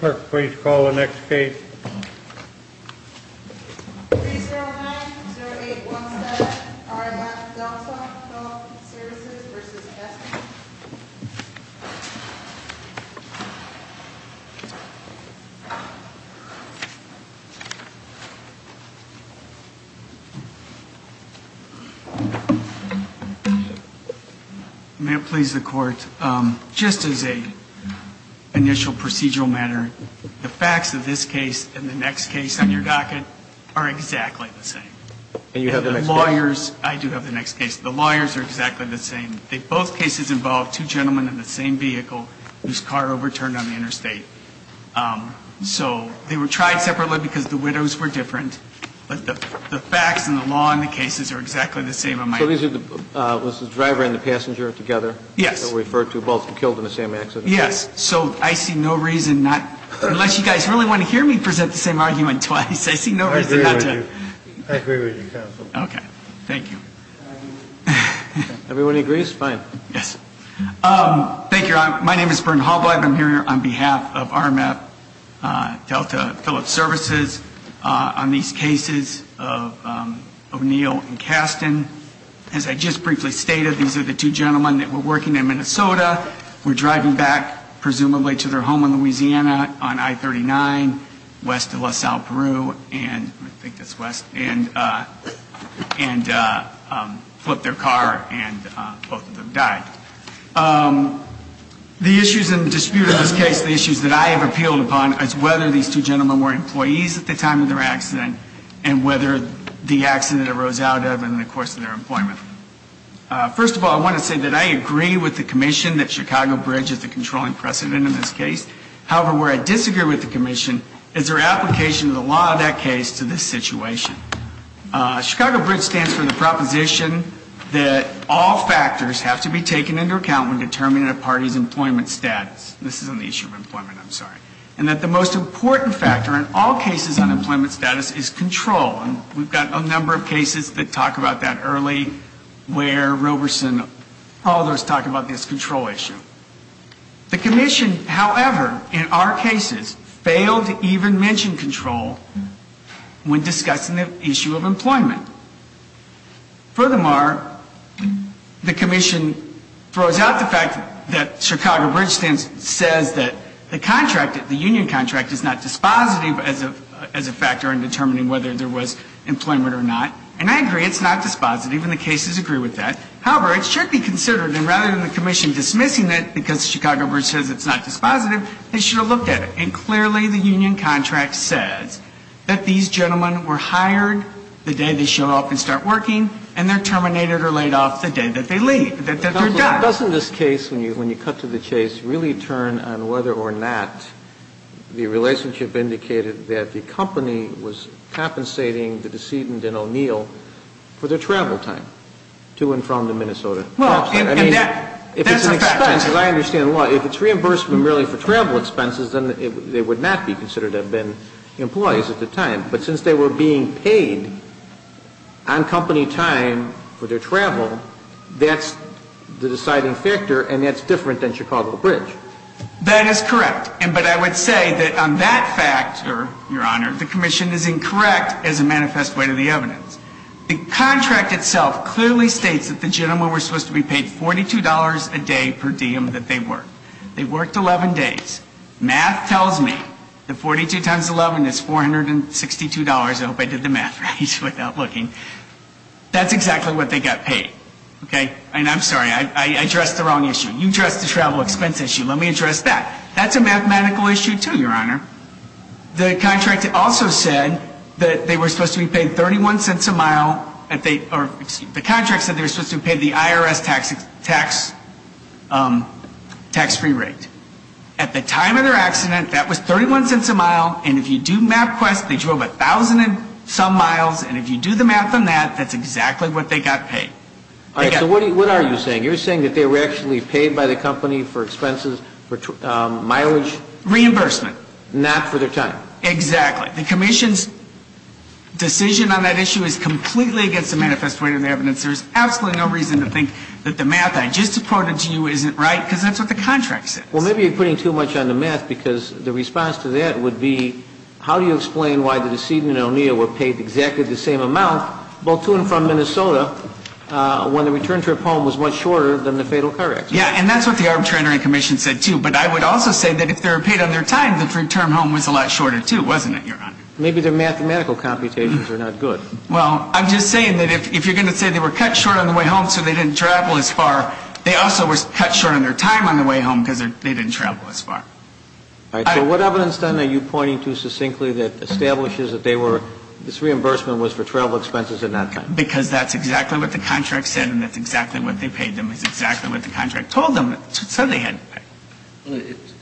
Clerk, please call the next case. 3-0-9-0-8-1-7 RF Delta, Phillip Services v. Testing May it please the Court, just as an initial procedural matter, the facts of this case and the next case on your docket are exactly the same. And you have the next case? The lawyers are exactly the same. Both cases involved two gentlemen in the same vehicle whose car overturned on the interstate. So they were tried separately because the widows were different. But the facts and the law in the cases are exactly the same. So this is the driver and the passenger together? Yes. Both were killed in the same accident? Yes. So I see no reason not to, unless you guys really want to hear me present the same argument twice, I see no reason not to. I agree with you. I agree with you, counsel. Okay. Thank you. Everybody agrees? Fine. Yes. Thank you. My name is Bryn Holbrook. I'm here on behalf of RMF Delta Phillips Services on these cases of O'Neill and Kasten. As I just briefly stated, these are the two gentlemen that were working in Minnesota. We're driving back, presumably, to their home in Louisiana on I-39, west of La Salle, Peru. And I think that's west. And flipped their car and both of them died. The issues in dispute in this case, the issues that I have appealed upon, is whether these two gentlemen were employees at the time of their accident and whether the accident arose out of and in the course of their employment. First of all, I want to say that I agree with the commission that Chicago Bridge is the controlling precedent in this case. However, where I disagree with the commission is their application of the law of that case to this situation. Chicago Bridge stands for the proposition that all factors have to be taken into account when determining a party's employment status. This is on the issue of employment, I'm sorry. And that the most important factor in all cases on employment status is control. And we've got a number of cases that talk about that early, where Roberson, all those talk about this control issue. The commission, however, in our cases, failed to even mention control when discussing the issue of employment. Furthermore, the commission throws out the fact that Chicago Bridge says that the contract, the union contract, is not dispositive as a factor in determining whether there was employment or not. And I agree, it's not dispositive, and the cases agree with that. However, it should be considered, and rather than the commission dismissing it because Chicago Bridge says it's not dispositive, they should have looked at it. And clearly the union contract says that these gentlemen were hired the day they show up and start working, and they're terminated or laid off the day that they leave, that they're done. Why doesn't this case, when you cut to the chase, really turn on whether or not the relationship indicated that the company was compensating the decedent in O'Neill for their travel time to and from Minnesota? Well, and that's a fact. If it's an expense, as I understand the law, if it's reimbursement really for travel expenses, then they would not be considered to have been employees at the time. But since they were being paid on company time for their travel, that's the deciding factor, and that's different than Chicago Bridge. That is correct. But I would say that on that factor, Your Honor, the commission is incorrect as a manifest way to the evidence. The contract itself clearly states that the gentlemen were supposed to be paid $42 a day per diem that they worked. They worked 11 days. Math tells me that 42 times 11 is $462. I hope I did the math right without looking. That's exactly what they got paid. Okay? And I'm sorry. I addressed the wrong issue. You addressed the travel expense issue. Let me address that. That's a mathematical issue, too, Your Honor. The contract also said that they were supposed to be paid 31 cents a mile, or the contract said they were supposed to be paid the IRS tax-free rate. At the time of their accident, that was 31 cents a mile, and if you do MapQuest, they drove 1,000-and-some miles, and if you do the math on that, that's exactly what they got paid. All right. So what are you saying? You're saying that they were actually paid by the company for expenses, for mileage? Reimbursement. Not for their time. Exactly. The commission's decision on that issue is completely against the manifest weight of the evidence. There's absolutely no reason to think that the math I just quoted to you isn't right, because that's what the contract says. Well, maybe you're putting too much on the math, because the response to that would be how do you explain why the decedent and O'Neill were paid exactly the same amount, both to and from Minnesota, when the return trip home was much shorter than the fatal car accident? Yeah, and that's what the arbitration commission said, too. But I would also say that if they were paid on their time, the return home was a lot shorter, too, wasn't it, Your Honor? Maybe their mathematical computations are not good. Well, I'm just saying that if you're going to say they were cut short on the way home so they didn't travel as far, they also were cut short on their time on the way home because they didn't travel as far. All right. So what evidence, then, are you pointing to succinctly that establishes that they were this reimbursement was for travel expenses and not time? Because that's exactly what the contract said, and that's exactly what they paid them. It's exactly what the contract told them, so they had to pay.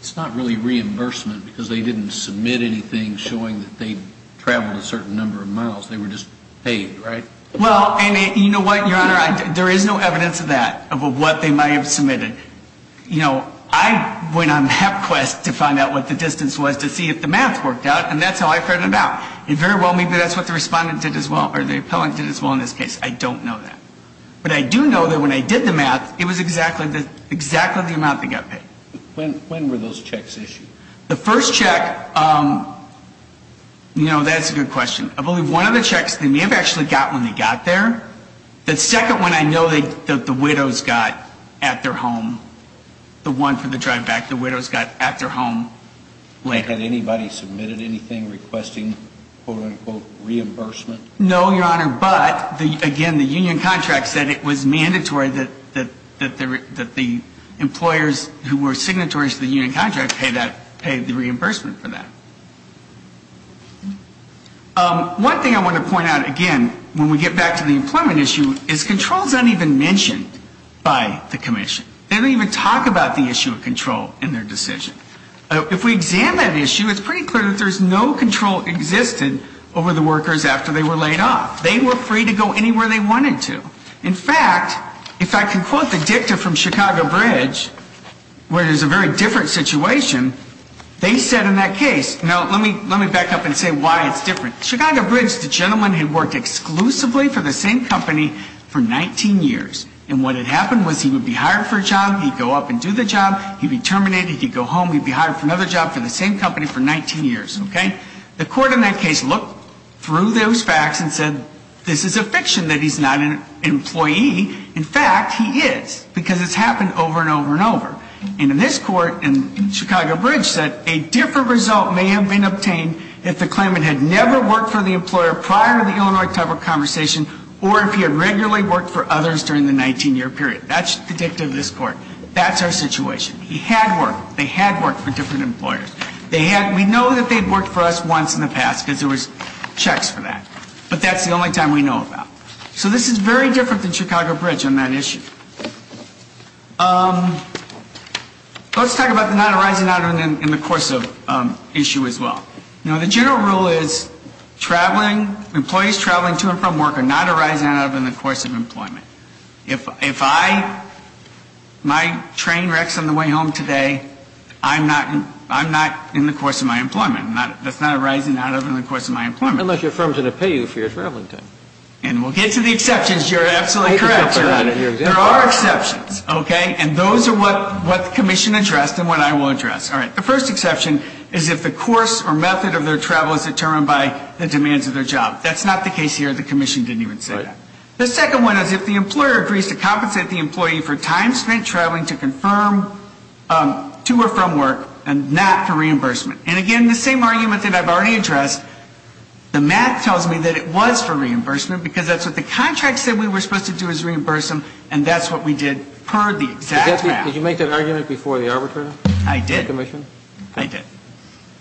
It's not really reimbursement because they didn't submit anything showing that they traveled a certain number of miles. They were just paid, right? Well, and you know what, Your Honor? There is no evidence of that, of what they might have submitted. You know, I went on that quest to find out what the distance was to see if the math worked out, and that's how I found out. And very well, maybe that's what the respondent did as well, or the appellant did as well in this case. I don't know that. But I do know that when I did the math, it was exactly the amount they got paid. When were those checks issued? The first check, you know, that's a good question. I believe one of the checks they may have actually got when they got there. The second one I know that the widows got at their home, the one for the drive back, the widows got at their home later. Had anybody submitted anything requesting, quote, unquote, reimbursement? No, Your Honor, but again, the union contract said it was mandatory that the employers who were signatories to the union contract pay that, pay the reimbursement for that. One thing I want to point out, again, when we get back to the employment issue, is controls aren't even mentioned by the commission. They don't even talk about the issue of control in their decision. If we examine that issue, it's pretty clear that there's no control existing over the workers after they were laid off. They were free to go anywhere they wanted to. In fact, if I can quote the dicta from Chicago Bridge, where it is a very different situation, they said in that case, now, let me back up and say why it's different. Chicago Bridge, the gentleman had worked exclusively for the same company for 19 years. And what had happened was he would be hired for a job, he'd go up and do the job, he'd be terminated, he'd go home, he'd be hired for another job for the same company for 19 years, okay? The court in that case looked through those facts and said, well, this is a fiction that he's not an employee. In fact, he is, because it's happened over and over and over. And in this court, Chicago Bridge said a different result may have been obtained if the claimant had never worked for the employer prior to the Illinois cover conversation or if he had regularly worked for others during the 19-year period. That's the dicta of this court. That's our situation. He had worked. They had worked for different employers. We know that they'd worked for us once in the past because there was checks for that. But that's the only time we know about. So this is very different than Chicago Bridge on that issue. Let's talk about the not arising out of in the course of issue as well. Now, the general rule is traveling, employees traveling to and from work are not arising out of in the course of employment. If I, my train wrecks on the way home today, I'm not in the course of my employment. That's not arising out of in the course of my employment. Unless your firm is going to pay you for your traveling time. And we'll get to the exceptions. You're absolutely correct, sir. There are exceptions. Okay? And those are what the commission addressed and what I will address. All right. The first exception is if the course or method of their travel is determined by the demands of their job. That's not the case here. The commission didn't even say that. The second one is if the employer agrees to compensate the employee for time spent traveling to confirm to or from work and not for reimbursement. And again, the same argument that I've already addressed, the math tells me that it was for reimbursement because that's what the contract said we were supposed to do is reimburse them, and that's what we did per the exact math. Did you make that argument before the arbitrator? I did. The commission? I did.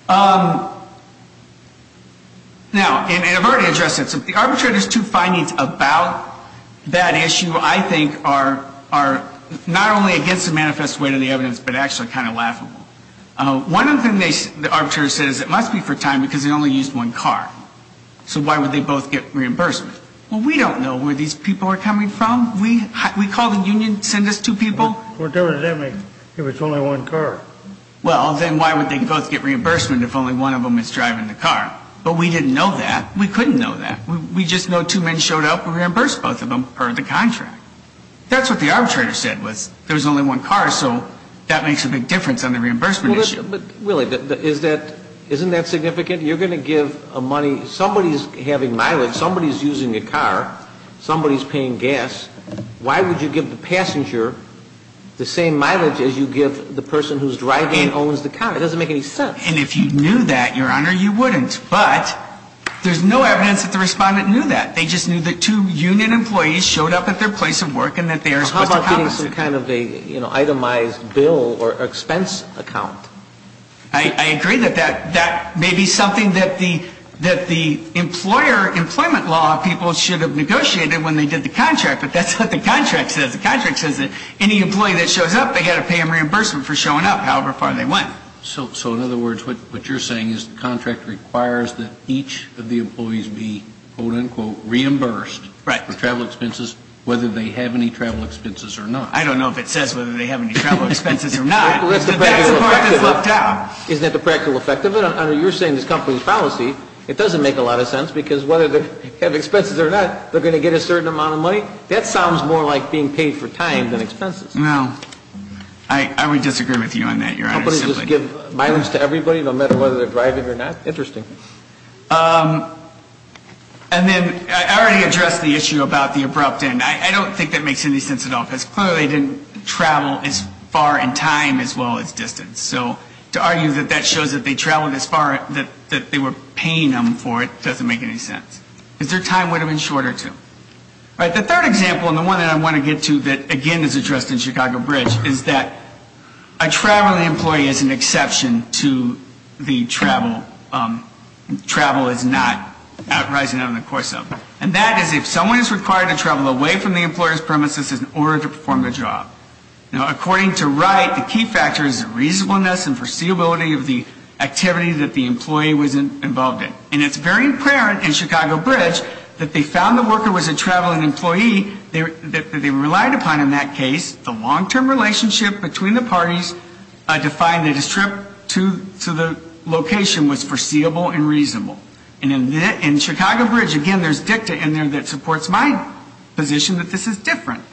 Now, and I've already addressed it. So the arbitrator's two findings about that issue I think are not only against the manifest way to the evidence, but actually kind of laughable. One of the things the arbitrator says it must be for time because they only used one car. So why would they both get reimbursement? Well, we don't know where these people are coming from. We call the union, send us two people. We're doing it anyway if it's only one car. Well, then why would they both get reimbursement if only one of them is driving the car? But we didn't know that. We couldn't know that. We just know two men showed up and reimbursed both of them per the contract. That's what the arbitrator said was there was only one car, so that makes a big difference on the reimbursement issue. But, Willie, isn't that significant? You're going to give a money. Somebody's having mileage. Somebody's using a car. Somebody's paying gas. Why would you give the passenger the same mileage as you give the person who's driving and owns the car? It doesn't make any sense. And if you knew that, Your Honor, you wouldn't. But there's no evidence that the respondent knew that. I agree that that may be something that the employer employment law people should have negotiated when they did the contract. But that's what the contract says. The contract says that any employee that shows up, they've got to pay them reimbursement for showing up, however far they went. So, in other words, what you're saying is the contract requires that each of the employees be, quote, unquote, reimbursed. Right. For travel expenses, whether they have any travel expenses or not. I don't know if it says whether they have any travel expenses or not. That's the part that's left out. Isn't that the practical effect of it? You're saying this company's policy, it doesn't make a lot of sense because whether they have expenses or not, they're going to get a certain amount of money? That sounds more like being paid for time than expenses. No. I would disagree with you on that, Your Honor. Companies just give mileage to everybody, no matter whether they're driving or not? Interesting. And then I already addressed the issue about the abrupt end. I don't think that makes any sense at all, because clearly they didn't travel as far in time as well as distance. So to argue that that shows that they traveled as far, that they were paying them for it, doesn't make any sense. Because their time would have been shorter, too. All right. The third example, and the one that I want to get to that, again, is addressed in Chicago Bridge, is that a traveling employee is an exception to the travel is not arising out of the course of. And that is if someone is required to travel away from the employer's premises in order to perform a job. Now, according to Wright, the key factor is the reasonableness and foreseeability of the activity that the employee was involved in. And it's very apparent in Chicago Bridge that they found the worker was a traveling employee that they relied upon in that case. The long-term relationship between the parties defined that his trip to the location was foreseeable and reasonable. And in Chicago Bridge, again, there's dicta in there that supports my position that this is different.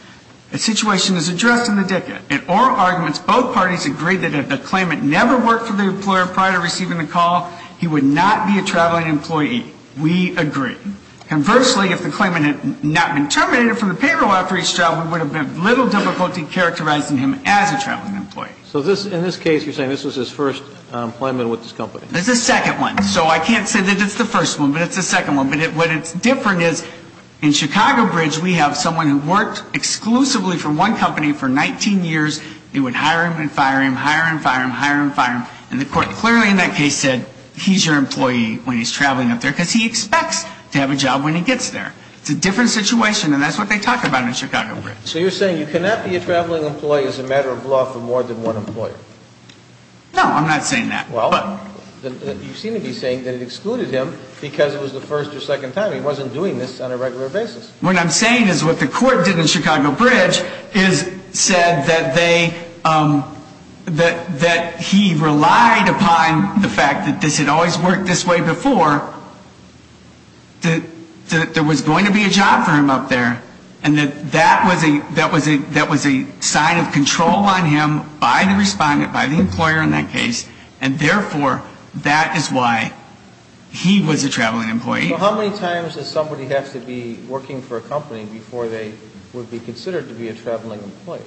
The situation is addressed in the dicta. In oral arguments, both parties agreed that if the claimant never worked for the employer prior to receiving the call, he would not be a traveling employee. We agree. Conversely, if the claimant had not been terminated from the payroll after each travel, there would have been little difficulty characterizing him as a traveling employee. So in this case, you're saying this was his first employment with this company. It's the second one. So I can't say that it's the first one, but it's the second one. But what is different is in Chicago Bridge, we have someone who worked exclusively for one company for 19 years. They would hire him and fire him, hire and fire him, hire and fire him. And the court clearly in that case said he's your employee when he's traveling up there because he expects to have a job when he gets there. It's a different situation, and that's what they talk about in Chicago Bridge. So you're saying you cannot be a traveling employee as a matter of law for more than one employer. No, I'm not saying that. You seem to be saying that it excluded him because it was the first or second time. He wasn't doing this on a regular basis. What I'm saying is what the court did in Chicago Bridge is said that he relied upon the fact that this had always worked this way before, that there was going to be a job for him up there, and that that was a sign of control on him by the respondent, by the employer in that case, and therefore that is why he was a traveling employee. So how many times does somebody have to be working for a company before they would be considered to be a traveling employee?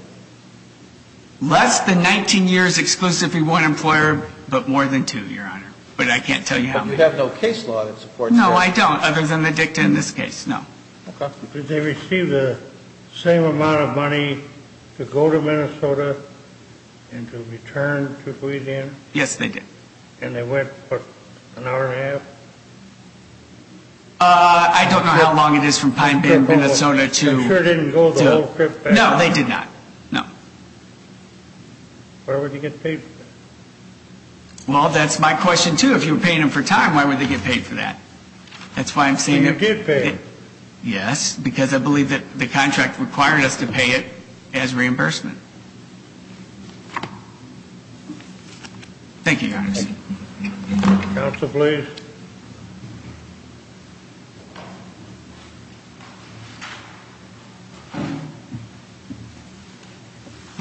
Less than 19 years exclusively one employer, but more than two, Your Honor. But I can't tell you how many. But you have no case law that supports that. No, I don't, other than the dicta in this case, no. Did they receive the same amount of money to go to Minnesota and to return to Louisiana? Yes, they did. And they went for an hour and a half? I don't know how long it is from Pine Bay, Minnesota to... They sure didn't go the whole trip back? No, they did not, no. Where would they get paid for that? Well, that's my question, too. If you were paying them for time, why would they get paid for that? That's why I'm saying... They did pay. Yes, because I believe that the contract required us to pay it as reimbursement. Thank you, Your Honor. Thank you. Counsel, please.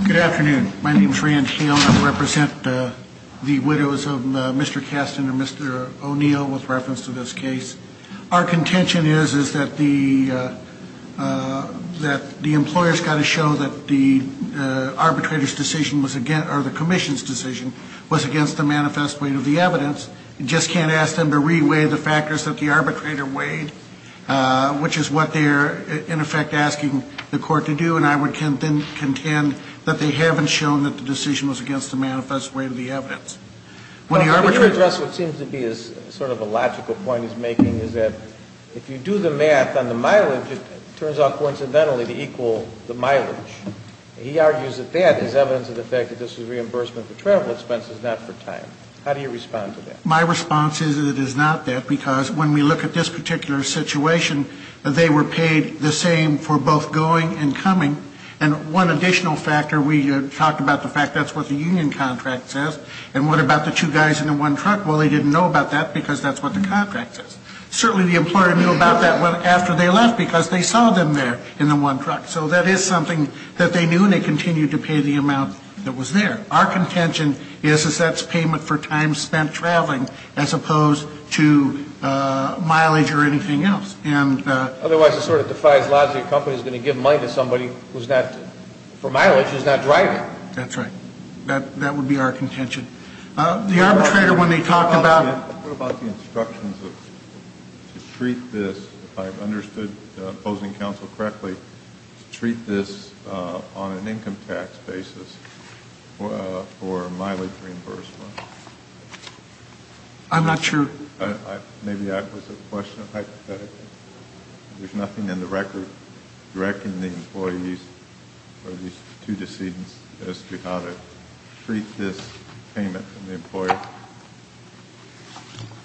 Good afternoon. My name is Rand Hale. I represent the widows of Mr. Kastin and Mr. O'Neill with reference to this case. Our contention is, is that the employer's got to show that the arbitrator's decision was against, or the commission's decision was against the manifest weight of the evidence. You just can't ask them to re-weigh the factors that the arbitrator weighed, which is what they're, in effect, asking the court to do. And I would then contend that they haven't shown that the decision was against the manifest weight of the evidence. When the arbitrator... Could you address what seems to be sort of a logical point he's making, is that if you do the math on the mileage, it turns out, coincidentally, to equal the mileage. He argues that that is evidence of the fact that this is reimbursement for travel expenses, not for time. How do you respond to that? My response is that it is not that, because when we look at this particular situation, they were paid the same for both going and coming. And one additional factor, we talked about the fact that's what the union contract says. And what about the two guys in the one truck? Well, they didn't know about that, because that's what the contract says. Certainly the employer knew about that after they left, because they saw them there in the one truck. So that is something that they knew, and they continued to pay the amount that was there. Our contention is, is that's payment for time spent traveling, as opposed to mileage or anything else. Otherwise it sort of defies laws that your company is going to give money to somebody who's not, for mileage, who's not driving. That's right. That would be our contention. The arbitrator, when they talked about What about the instructions to treat this, if I've understood opposing counsel correctly, to treat this on an income tax basis for mileage reimbursement? I'm not sure. Maybe that was a question of hypotheticals. There's nothing in the record directing the employees or these two decedents as to how to treat this payment from the employer?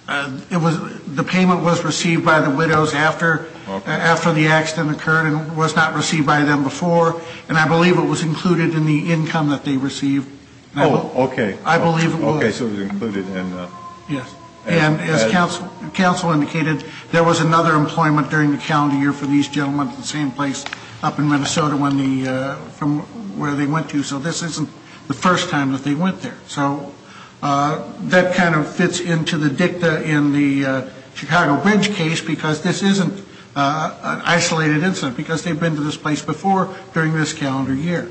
The payment was received by the widows after the accident occurred and was not received by them before. And I believe it was included in the income that they received. Oh, okay. I believe it was. Okay, so it was included. Yes. And as counsel indicated, there was another employment during the calendar year for these gentlemen at the same place up in Minnesota from where they went to. So this isn't the first time that they went there. So that kind of fits into the dicta in the Chicago Bridge case, because this isn't an isolated incident, because they've been to this place before during this calendar year.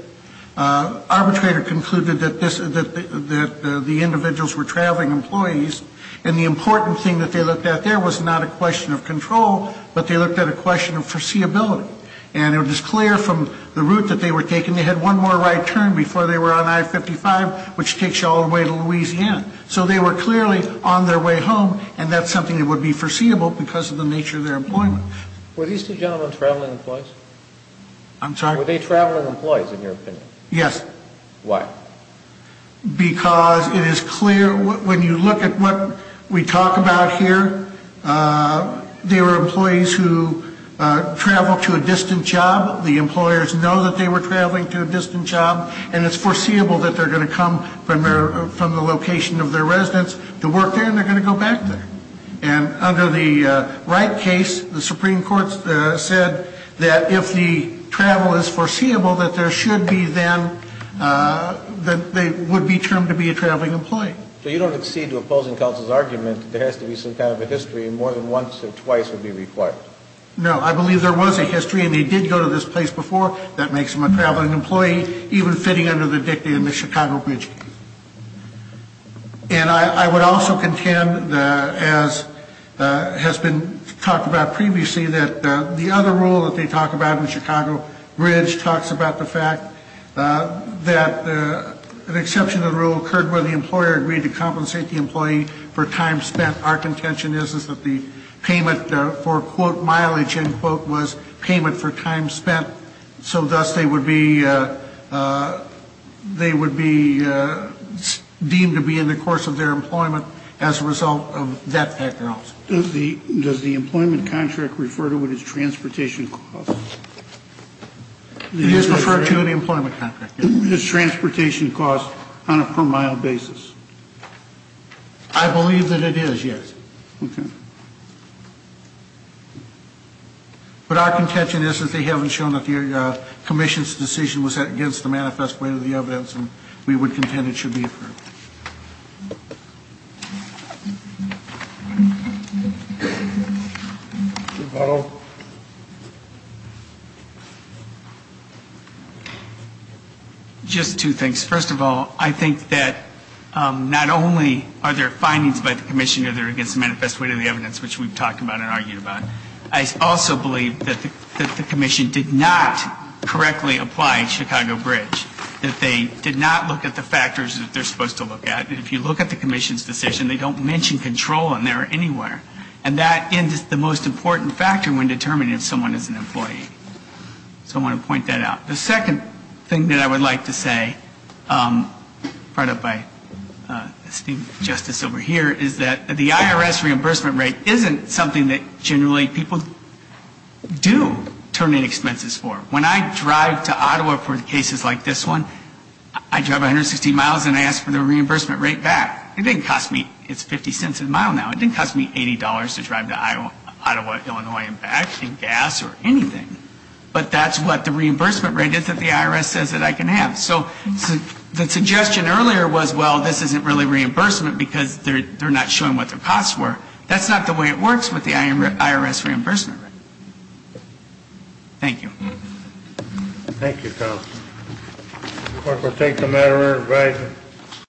Arbitrator concluded that the individuals were traveling employees, and the important thing that they looked at there was not a question of control, but they looked at a question of foreseeability. And it was clear from the route that they were taking they had one more right turn before they were on I-55, which takes you all the way to Louisiana. So they were clearly on their way home, and that's something that would be foreseeable because of the nature of their employment. Were these two gentlemen traveling employees? I'm sorry? Were they traveling employees in your opinion? Yes. Why? Because it is clear when you look at what we talk about here, they were employees who traveled to a distant job. The employers know that they were traveling to a distant job, and it's foreseeable that they're going to come from the location of their residence to work there, and they're going to go back there. And under the Wright case, the Supreme Court said that if the travel is foreseeable, that there should be then, that they would be termed to be a traveling employee. So you don't accede to opposing counsel's argument that there has to be some kind of a history, and more than once or twice would be required? No. I believe there was a history, and they did go to this place before. That makes them a traveling employee, even fitting under the dicta in the Chicago Bridge case. And I would also contend, as has been talked about previously, that the other rule that they talk about in the Chicago Bridge talks about the fact that an exception to the rule occurred where the employer agreed to compensate the employee for time spent. Our contention is that the payment for, quote, mileage, end quote, was payment for time spent. So thus, they would be deemed to be in the course of their employment as a result of that factor also. Does the employment contract refer to it as transportation costs? It is referred to in the employment contract, yes. Is transportation cost on a per mile basis? I believe that it is, yes. Okay. But our contention is that they haven't shown that the commission's decision was against the manifest weight of the evidence, and we would contend it should be affirmed. Mr. Powell? Just two things. First of all, I think that not only are there findings by the commission either against the manifest weight of the evidence, which we've talked about and argued about, I also believe that the commission did not correctly apply Chicago Bridge, that they did not look at the factors that they're supposed to look at. If you look at the commission's decision, they don't mention control in there anywhere. And that is the most important factor when determining if someone is an employee. So I want to point that out. The second thing that I would like to say, brought up by esteemed justice over here, is that the IRS reimbursement rate isn't something that generally people do terminate expenses for. When I drive to Ottawa for cases like this one, I drive 160 miles and I ask for the reimbursement rate back. It didn't cost me, it's 50 cents a mile now, it didn't cost me $80 to drive to Ottawa, Illinois and back and gas or anything. But that's what the reimbursement rate is that the IRS says that I can have. So the suggestion earlier was, well, this isn't really reimbursement because they're not showing what their costs were. That's not the way it works with the IRS reimbursement rate. Thank you. Thank you, counsel. The court will take the matter in writing.